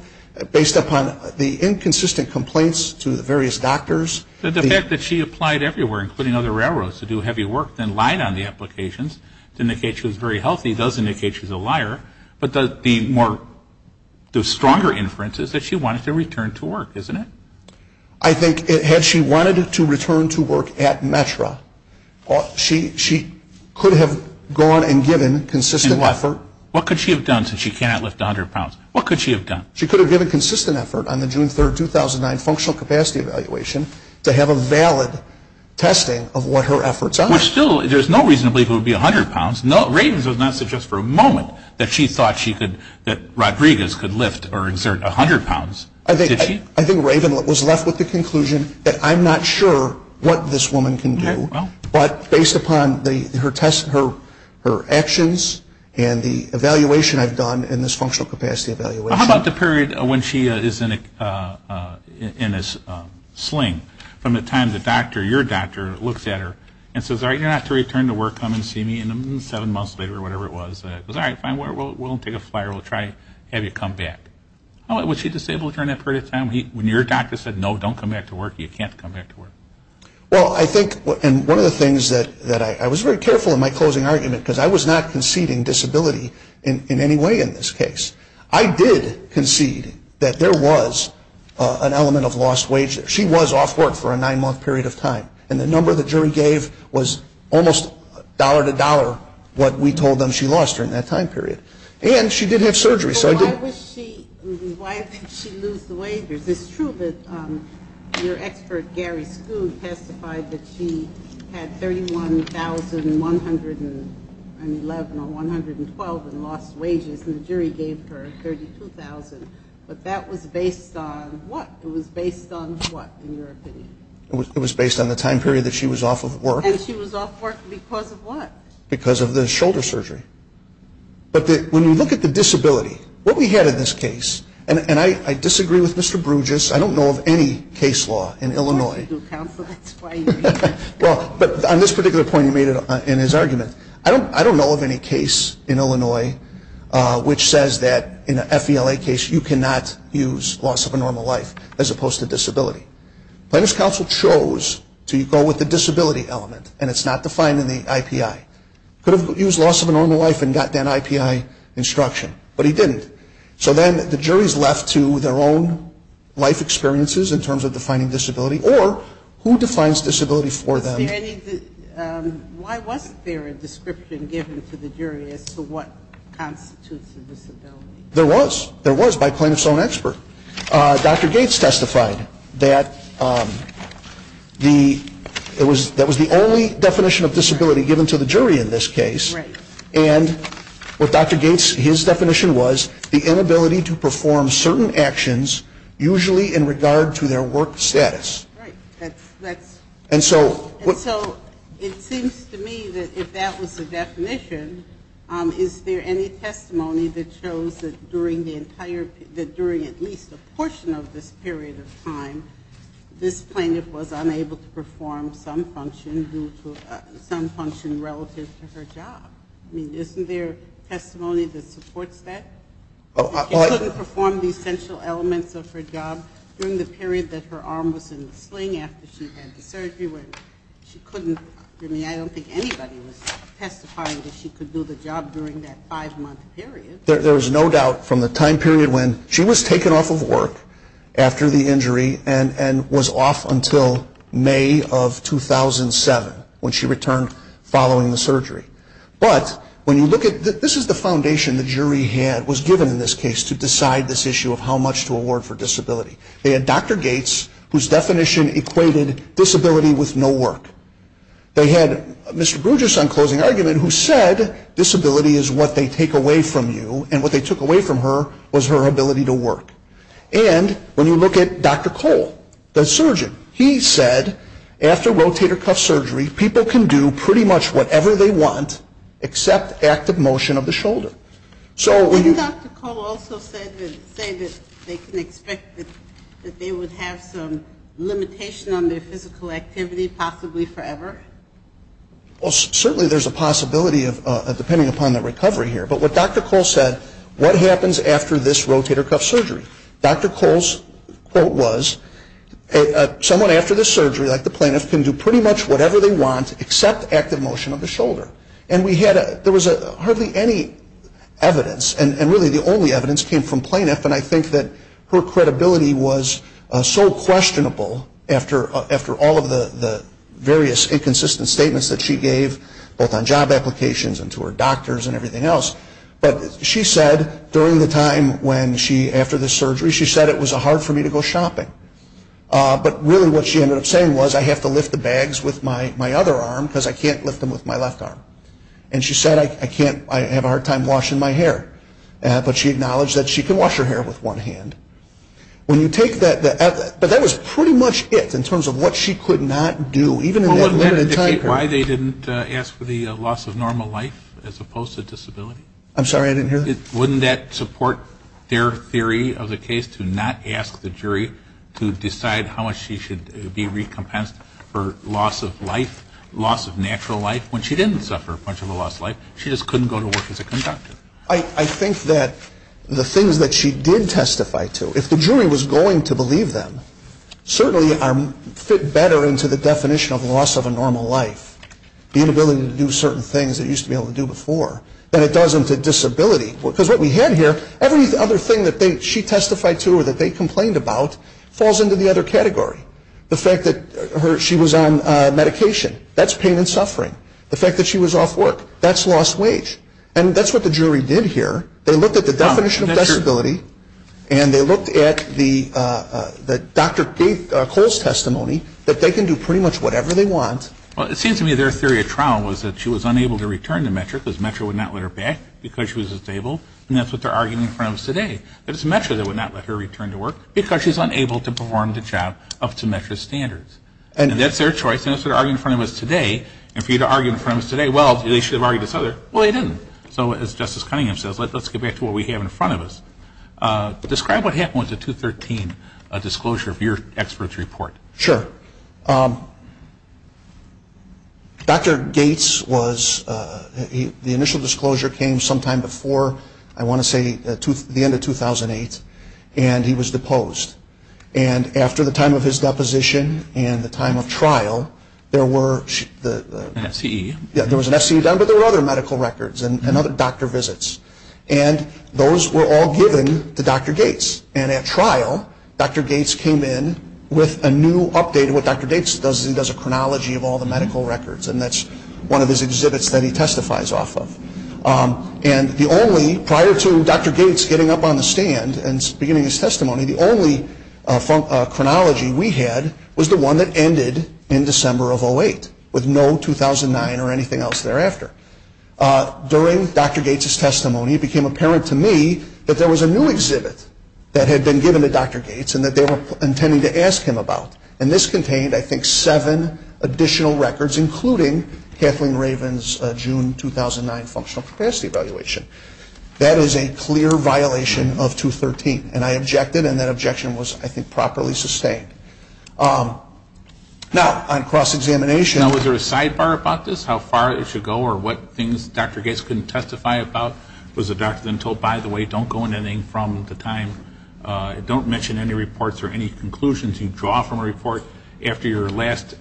based upon the inconsistent complaints to the various doctors. The fact that she applied everywhere, including other railroads to do heavy work, then lied on the applications to indicate she was very healthy does indicate she's a liar. But the stronger inference is that she wanted to return to work, isn't it? I think had she wanted to return to work at METRA, she could have gone and given consistent effort. And what? What could she have done since she cannot lift 100 pounds? What could she have done? She could have given consistent effort on the June 3, 2009, functional capacity evaluation to have a valid testing of what her efforts are. Which still, there's no reason to believe it would be 100 pounds. Ravens does not suggest for a moment that she thought she could, that Rodriguez could lift or exert 100 pounds. Did she? I think Raven was left with the conclusion that I'm not sure what this woman can do, but based upon her tests, her actions, and the evaluation I've done in this functional capacity evaluation. How about the period when she is in a sling? From the time the doctor, your doctor, looks at her and says, all right, you're going to have to return to work, come and see me, and seven months later, whatever it was, all right, fine, we'll take a flyer, we'll try to have you come back. All right, was she disabled during that period of time? When your doctor said, no, don't come back to work, you can't come back to work? Well, I think, and one of the things that I was very careful in my closing argument, because I was not conceding disability in any way in this case. I did concede that there was an element of lost wage there. She was off work for a nine-month period of time, and the number the jury gave was almost dollar to dollar what we told them she lost during that time period, and she did have surgery. So why did she lose the wages? It's true that your expert, Gary Skoog, testified that she had $31,111 or 112 in lost wages, and the jury gave her $32,000, but that was based on what? It was based on what, in your opinion? It was based on the time period that she was off of work. And she was off work because of what? Because of the shoulder surgery. But when you look at the disability, what we had in this case, and I disagree with Mr. Bruges, I don't know of any case law in Illinois. Well, I do, counsel, that's why you're here. Well, but on this particular point you made in his argument, I don't know of any case in Illinois which says that in an FELA case you cannot use loss of a normal life as opposed to disability. Plaintiff's counsel chose to go with the disability element, and it's not defined in the IPI. Could have used loss of a normal life and gotten that IPI instruction, but he didn't. So then the jury's left to their own life experiences in terms of defining disability, or who defines disability for them? Why wasn't there a description given to the jury as to what constitutes a disability? There was. There was by plaintiff's own expert. Dr. Gates testified that that was the only definition of disability given to the jury in this case. Right. And what Dr. Gates, his definition was, the inability to perform certain actions usually in regard to their work status. Right. And so it seems to me that if that was the definition, is there any testimony that shows that during the entire, that during at least a portion of this period of time, this plaintiff was unable to perform some function relative to her job? I mean, isn't there testimony that supports that? She couldn't perform the essential elements of her job during the period that her arm was in the sling after she had the surgery when she couldn't. I mean, I don't think anybody was testifying that she could do the job during that five-month period. There is no doubt from the time period when she was taken off of work after the injury and was off until May of 2007 when she returned following the surgery. But when you look at, this is the foundation the jury had, was given in this case to decide this issue of how much to award for disability. They had Dr. Gates whose definition equated disability with no work. They had Mr. Bruges on closing argument who said disability is what they take away from you and what they took away from her was her ability to work. And when you look at Dr. Cole, the surgeon, he said after rotator cuff surgery, people can do pretty much whatever they want except active motion of the shoulder. Didn't Dr. Cole also say that they can expect that they would have some limitation on their physical activity, possibly forever? Well, certainly there's a possibility depending upon the recovery here. But what Dr. Cole said, what happens after this rotator cuff surgery? Dr. Cole's quote was, someone after this surgery, like the plaintiff, can do pretty much whatever they want except active motion of the shoulder. And we had a, there was hardly any evidence and really the only evidence came from plaintiff and I think that her credibility was so questionable after all of the various inconsistent statements that she gave both on job applications and to her doctors and everything else. But she said during the time when she, after the surgery, she said it was hard for me to go shopping. But really what she ended up saying was I have to lift the bags with my other arm because I can't lift them with my left arm. And she said I can't, I have a hard time washing my hair. But she acknowledged that she could wash her hair with one hand. When you take that, but that was pretty much it in terms of what she could not do, even in that limited time period. Well, wouldn't that indicate why they didn't ask for the loss of normal life as opposed to disability? I'm sorry, I didn't hear that. Wouldn't that support their theory of the case to not ask the jury to decide how much she should be recompensed for loss of life, loss of natural life when she didn't suffer much of a loss of life. She just couldn't go to work as a conductor. I think that the things that she did testify to, if the jury was going to believe them, certainly fit better into the definition of loss of a normal life. The inability to do certain things that you used to be able to do before than it does into disability. Because what we had here, every other thing that she testified to or that they complained about falls into the other category. The fact that she was on medication, that's pain and suffering. The fact that she was off work, that's lost wage. And that's what the jury did here. They looked at the definition of disability and they looked at Dr. Cole's testimony that they can do pretty much whatever they want. Well, it seems to me their theory of trial was that she was unable to return to Metro because Metro would not let her back because she was disabled. And that's what they're arguing in front of us today. And for you to argue in front of us today, well, they should have argued this other. Well, they didn't. So as Justice Cunningham says, let's get back to what we have in front of us. Describe what happened with the 213 disclosure of your expert's report. Sure. Dr. Gates was the initial disclosure came sometime before, I want to say, the end of 213. And he was deposed. And after the time of his deposition and the time of trial, there was an FCE done, but there were other medical records and other doctor visits. And those were all given to Dr. Gates. And at trial, Dr. Gates came in with a new update. What Dr. Gates does is he does a chronology of all the medical records, and that's one of his exhibits that he testifies off of. And the only, prior to Dr. Gates getting up on the stand and beginning his testimony, the only chronology we had was the one that ended in December of 08, with no 2009 or anything else thereafter. During Dr. Gates' testimony, it became apparent to me that there was a new exhibit that had been given to Dr. Gates and that they were intending to ask him about. And this contained, I think, seven additional records, including Kathleen Raven's June 2009 functional capacity evaluation. That is a clear violation of 213. And I objected, and that objection was, I think, properly sustained. Now, on cross-examination. Now, was there a sidebar about this, how far it should go, or what things Dr. Gates couldn't testify about? Was the doctor then told, by the way, don't go into anything from the time, don't mention any reports or any conclusions you draw from a report after your last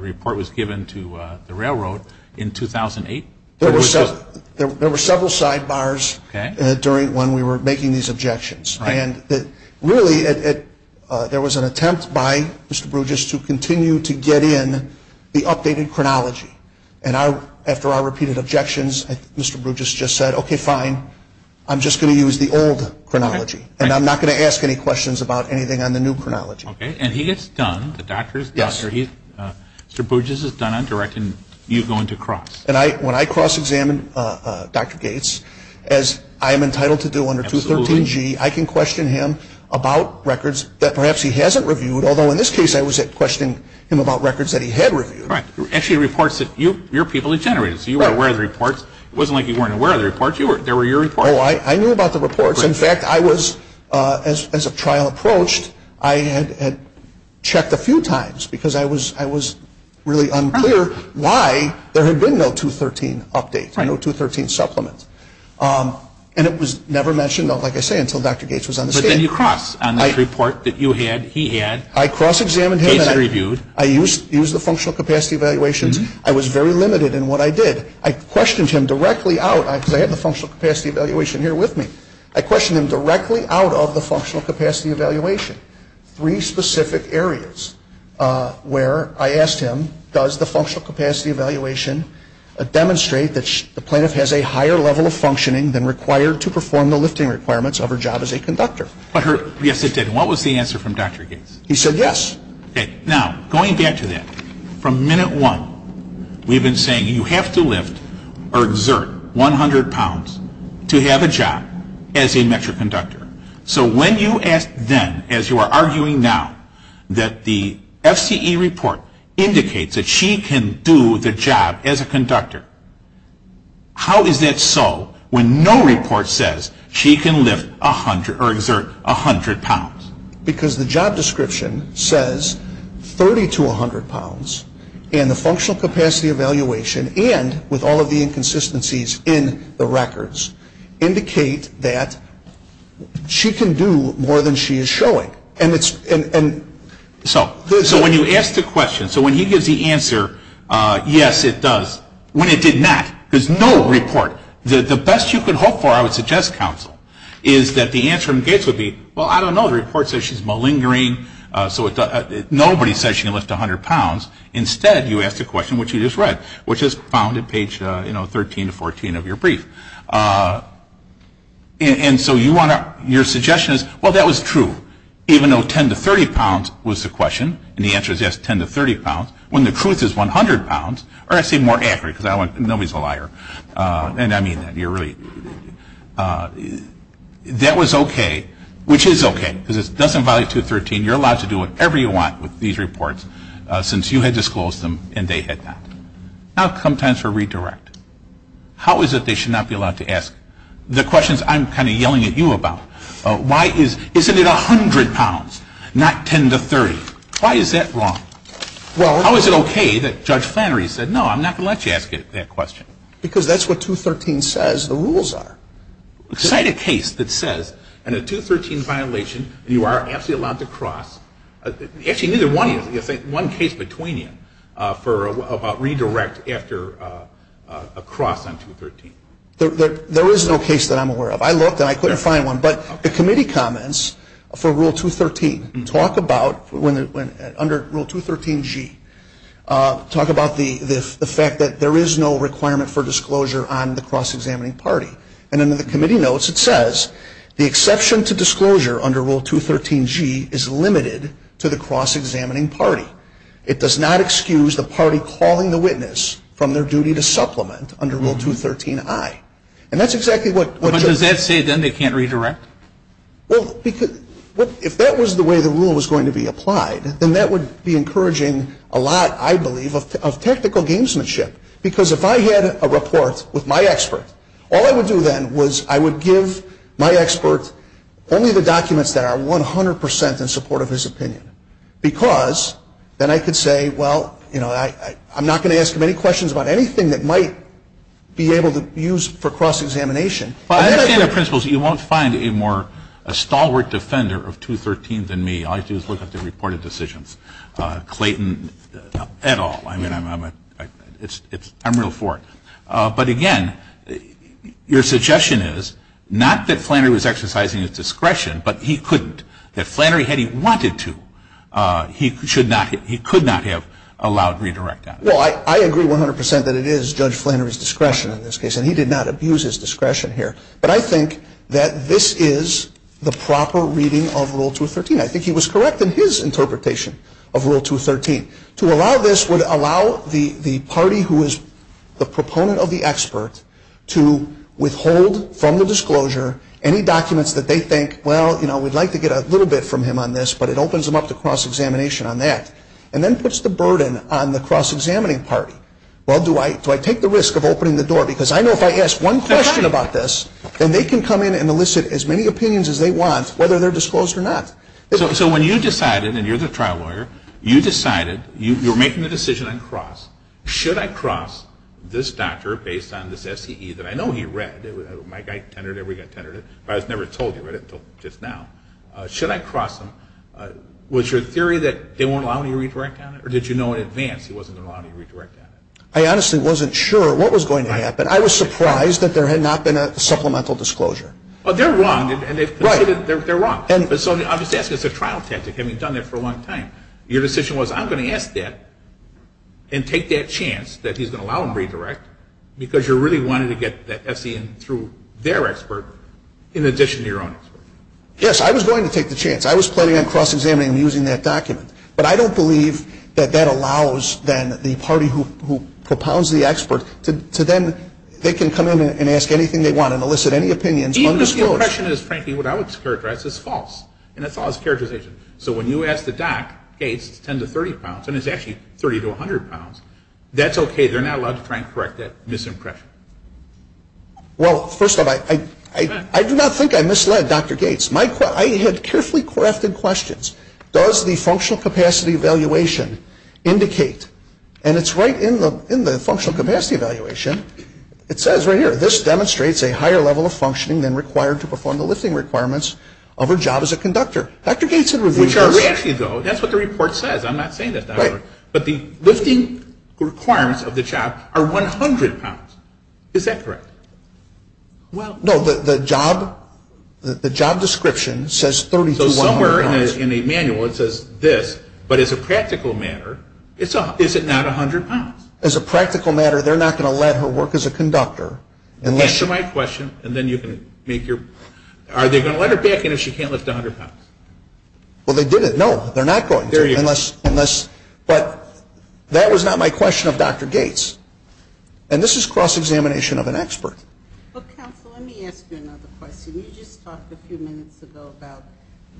report was given to the railroad in 2008? There were several sidebars during when we were making these objections. And really, there was an attempt by Mr. Brugis to continue to get in the updated chronology. And after our repeated objections, Mr. Brugis just said, okay, fine. I'm just going to use the old chronology. And I'm not going to ask any questions about anything on the new chronology. Okay. And he gets done, the doctor is done, or Mr. Brugis is done on directing you going to cross. And when I cross-examine Dr. Gates, as I am entitled to do under 213G, I can question him about records that perhaps he hasn't reviewed, although in this case I was questioning him about records that he had reviewed. Right. Actually, reports that your people had generated. It wasn't like you weren't aware of the reports. There were your reports. Oh, I knew about the reports. In fact, I was, as a trial approached, I had checked a few times because I was really unclear why there had been no 213 update, no 213 supplement. And it was never mentioned, like I say, until Dr. Gates was on the stand. But then you cross on this report that you had, he had. I cross-examined him. Gates had reviewed. I used the functional capacity evaluations. I was very limited in what I did. I questioned him directly out, because I had the functional capacity evaluation here with me. I questioned him directly out of the functional capacity evaluation, three specific areas where I asked him, does the functional capacity evaluation demonstrate that the plaintiff has a higher level of functioning than required to perform the lifting requirements of her job as a conductor? Yes, it did. And what was the answer from Dr. Gates? He said yes. Okay. Now, going back to that, from minute one, we've been saying you have to lift or exert 100 pounds to have a job as a metric conductor. So when you ask then, as you are arguing now, that the FCE report indicates that she can do the job as a conductor, how is that so when no report says she can lift 100 or exert 100 pounds? Because the job description says 30 to 100 pounds, and the functional capacity evaluation, and with all of the inconsistencies in the records, indicate that she can do more than she is showing. So when you ask the question, so when he gives the answer, yes, it does. When it did not, there's no report. The best you can hope for, I would suggest, Counsel, is that the answer from Gates would be, well, I don't know, the report says she's malingering, so nobody says she can lift 100 pounds. Instead, you ask the question, which you just read, which is found at page 13 to 14 of your brief. And so your suggestion is, well, that was true, even though 10 to 30 pounds was the question, and the answer is yes, 10 to 30 pounds, when the truth is 100 pounds, or I say more accurately, because nobody's a liar, and I mean that. That was okay, which is okay, because it doesn't violate 213. You're allowed to do whatever you want with these reports, since you had disclosed them and they had not. Now come times for redirect. How is it they should not be allowed to ask the questions I'm kind of yelling at you about? Why is, isn't it 100 pounds, not 10 to 30? Why is that wrong? How is it okay that Judge Flannery said, no, I'm not going to let you ask that question? Because that's what 213 says the rules are. Cite a case that says, in a 213 violation, you are absolutely allowed to cross. Actually, neither one is. One case between you for a redirect after a cross on 213. There is no case that I'm aware of. I looked and I couldn't find one, but the committee comments for Rule 213 talk about, under Rule 213G, talk about the fact that there is no requirement for disclosure on the cross-examining party. And in the committee notes, it says, the exception to disclosure under Rule 213G is limited to the cross-examining party. It does not excuse the party calling the witness from their duty to supplement under Rule 213I. And that's exactly what Judge Flannery said. But does that say then they can't redirect? Well, if that was the way the rule was going to be applied, then that would be encouraging a lot, I believe, of technical gamesmanship. Because if I had a report with my expert, all I would do then was I would give my expert only the documents that are 100 percent in support of his opinion. Because then I could say, well, you know, I'm not going to ask him any questions about anything that might be able to be used for cross-examination. Well, I understand the principles. You won't find a more stalwart defender of 213 than me. All you have to do is look at the reported decisions. Clayton, et al. I mean, I'm real for it. But, again, your suggestion is not that Flannery was exercising his discretion, but he couldn't. That Flannery, had he wanted to, he could not have allowed redirect action. Well, I agree 100 percent that it is Judge Flannery's discretion in this case. And he did not abuse his discretion here. But I think that this is the proper reading of Rule 213. I think he was correct in his interpretation of Rule 213. To allow this would allow the party who is the proponent of the expert to withhold from the disclosure any documents that they think, well, you know, we'd like to get a little bit from him on this, but it opens them up to cross-examination on that. And then puts the burden on the cross-examining party. Well, do I take the risk of opening the door? Because I know if I ask one question about this, then they can come in and elicit as many opinions as they want, whether they're disclosed or not. So when you decided, and you're the trial lawyer, you decided, you were making the decision on cross. Should I cross this doctor based on this SCE that I know he read? My guy tenured it, every guy tenured it. But I was never told he read it until just now. Should I cross him? Was your theory that they won't allow him to redirect on it? Or did you know in advance he wasn't allowed to redirect on it? I honestly wasn't sure what was going to happen. I was surprised that there had not been a supplemental disclosure. Well, they're wrong. Right. They're wrong. I'm just asking as a trial tactic, having done that for a long time. Your decision was I'm going to ask that and take that chance that he's going to allow him to redirect because you really wanted to get that SCE in through their expert in addition to your own expert. Yes, I was going to take the chance. I was planning on cross-examining him using that document. But I don't believe that that allows then the party who propounds the expert to then, they can come in and ask anything they want and elicit any opinions undisclosed. Even if the impression is frankly what I would characterize as false. And it's false characterization. So when you ask the doc, Gates, it's 10 to 30 pounds, and it's actually 30 to 100 pounds, that's okay. They're not allowed to try and correct that misimpression. Well, first of all, I do not think I misled Dr. Gates. I had carefully crafted questions. Does the functional capacity evaluation indicate, and it's right in the functional capacity evaluation, it says right here, this demonstrates a higher level of functioning than required to perform the lifting requirements of a job as a conductor. Dr. Gates had reviewed this. Which are actually, though, that's what the report says. I'm not saying that, Dr. Burke. Right. But the lifting requirements of the job are 100 pounds. Is that correct? Well, no. The job description says 30 to 100 pounds. So somewhere in the manual it says this. But as a practical matter, is it not 100 pounds? As a practical matter, they're not going to let her work as a conductor. Answer my question, and then you can make your, are they going to let her back in if she can't lift 100 pounds? Well, they didn't. No, they're not going to. There you go. But that was not my question of Dr. Gates. And this is cross-examination of an expert. But, counsel, let me ask you another question. You just talked a few minutes ago about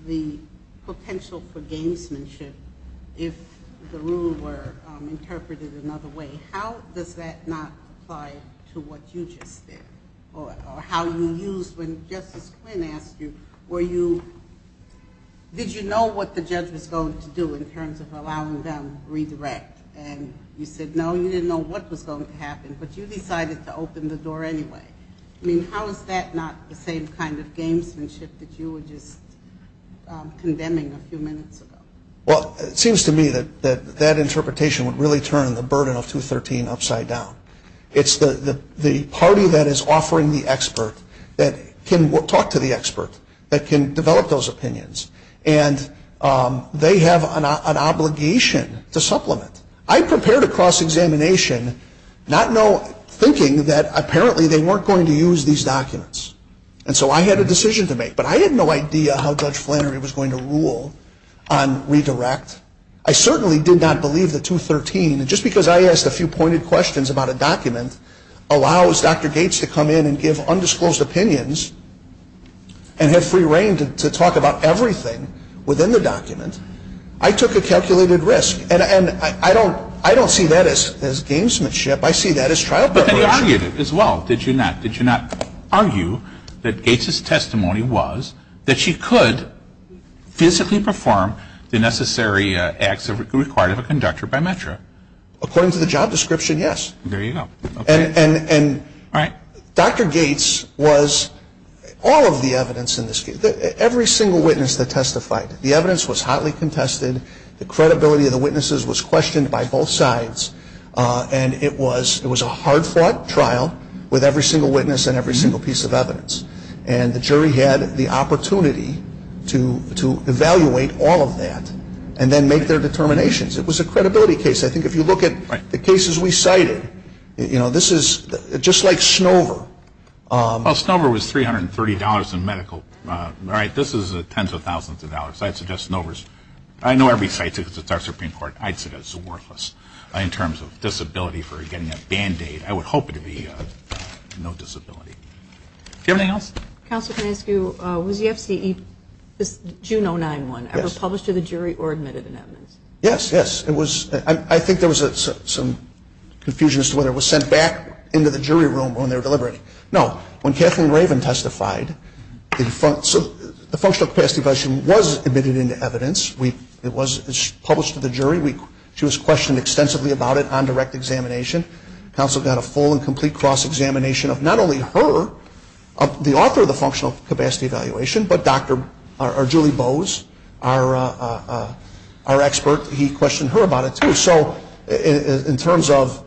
the potential for gamesmanship if the rule were interpreted another way. How does that not apply to what you just did? Or how you used, when Justice Quinn asked you, were you, did you know what the judge was going to do in terms of allowing them redirect? And you said, no, you didn't know what was going to happen, but you decided to open the door anyway. I mean, how is that not the same kind of gamesmanship that you were just condemning a few minutes ago? Well, it seems to me that that interpretation would really turn the burden of 213 upside down. It's the party that is offering the expert that can talk to the expert, that can develop those opinions. And they have an obligation to supplement. I prepared a cross-examination not thinking that apparently they weren't going to use these documents. And so I had a decision to make. But I had no idea how Judge Flannery was going to rule on redirect. I certainly did not believe that 213, just because I asked a few pointed questions about a document, allows Dr. Gates to come in and give undisclosed opinions and have free reign to talk about everything within the document. I took a calculated risk. And I don't see that as gamesmanship. I see that as trial preparation. But then you argued it as well, did you not? Did you not argue that Gates' testimony was that she could physically perform the necessary acts required of a conductor by Metro? According to the job description, yes. There you go. And Dr. Gates was all of the evidence in this case, every single witness that testified. The evidence was hotly contested. The credibility of the witnesses was questioned by both sides. And it was a hard-fought trial with every single witness and every single piece of evidence. And the jury had the opportunity to evaluate all of that and then make their determinations. It was a credibility case. I think if you look at the cases we cited, you know, this is just like Snover. Well, Snover was $330 in medical. All right, this is tens of thousands of dollars. I'd suggest Snover's. I know every site because it's our Supreme Court. I'd suggest it's worthless in terms of disability for getting a Band-Aid. I would hope it would be no disability. Do you have anything else? Counselor, can I ask you, was the FCE, this June 091, ever published to the jury or admitted in evidence? Yes, yes. I think there was some confusion as to whether it was sent back into the jury room when they were deliberating. No. When Kathleen Raven testified, the Functional Capacity Evaluation was admitted into evidence. It was published to the jury. She was questioned extensively about it on direct examination. Counsel got a full and complete cross-examination of not only her, the author of the Functional Capacity Evaluation, but Julie Bowes, our expert, he questioned her about it, too. So in terms of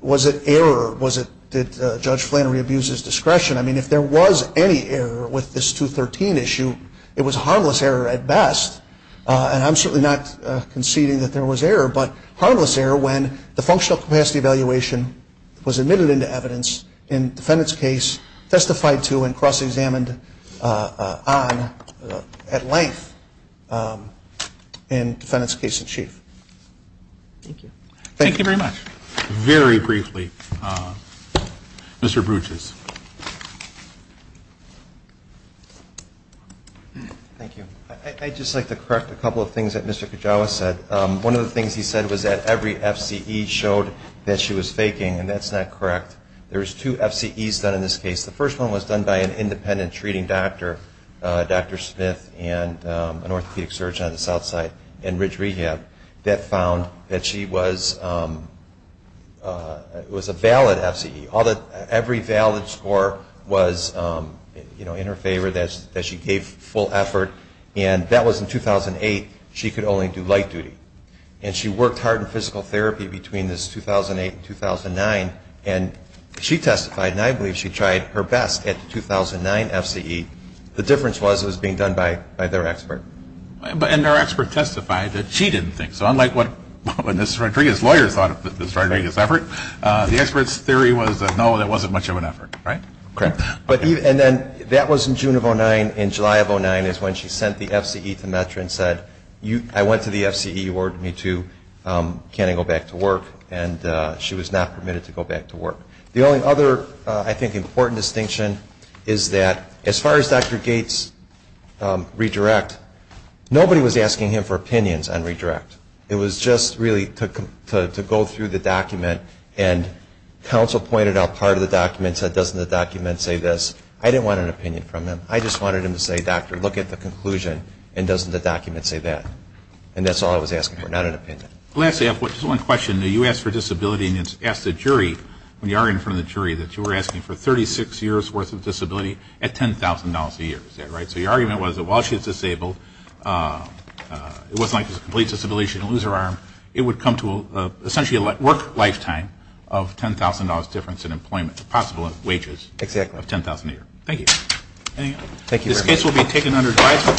was it error, did Judge Flannery abuse his discretion? I mean, if there was any error with this 213 issue, it was harmless error at best. And I'm certainly not conceding that there was error, but harmless error when the Functional Capacity Evaluation was admitted into evidence in defendant's case, which was testified to and cross-examined on at length in defendant's case in chief. Thank you. Thank you very much. Very briefly, Mr. Bruges. Thank you. I'd just like to correct a couple of things that Mr. Kajawa said. One of the things he said was that every FCE showed that she was faking, and that's not correct. There's two FCEs done in this case. The first one was done by an independent treating doctor, Dr. Smith, and an orthopedic surgeon on the south side in Ridge Rehab that found that she was a valid FCE. Every valid score was in her favor, that she gave full effort. And that was in 2008. She could only do light duty. And she worked hard in physical therapy between this 2008 and 2009, and she testified, and I believe she tried her best at the 2009 FCE. The difference was it was being done by their expert. And their expert testified that she didn't think so, unlike what Ms. Rodriguez's lawyers thought of Ms. Rodriguez's effort. The expert's theory was that, no, that wasn't much of an effort, right? Correct. And then that was in June of 2009. In July of 2009 is when she sent the FCE to Metro and said, I went to the FCE, you ordered me to, can I go back to work? And she was not permitted to go back to work. The only other, I think, important distinction is that as far as Dr. Gates' redirect, nobody was asking him for opinions on redirect. It was just really to go through the document, and counsel pointed out part of the document, said, doesn't the document say this? I didn't want an opinion from him. I just wanted him to say, doctor, look at the conclusion, and doesn't the document say that? And that's all I was asking for, not an opinion. Lastly, I have just one question. You asked for disability, and you asked the jury, when you argued in front of the jury, that you were asking for 36 years' worth of disability at $10,000 a year. Is that right? So your argument was that while she was disabled, it wasn't like she was a complete disability, she didn't lose her arm, it would come to essentially a work lifetime of $10,000 difference in employment, the possible wages of $10,000 a year. Thank you. This case will be taken under advisory.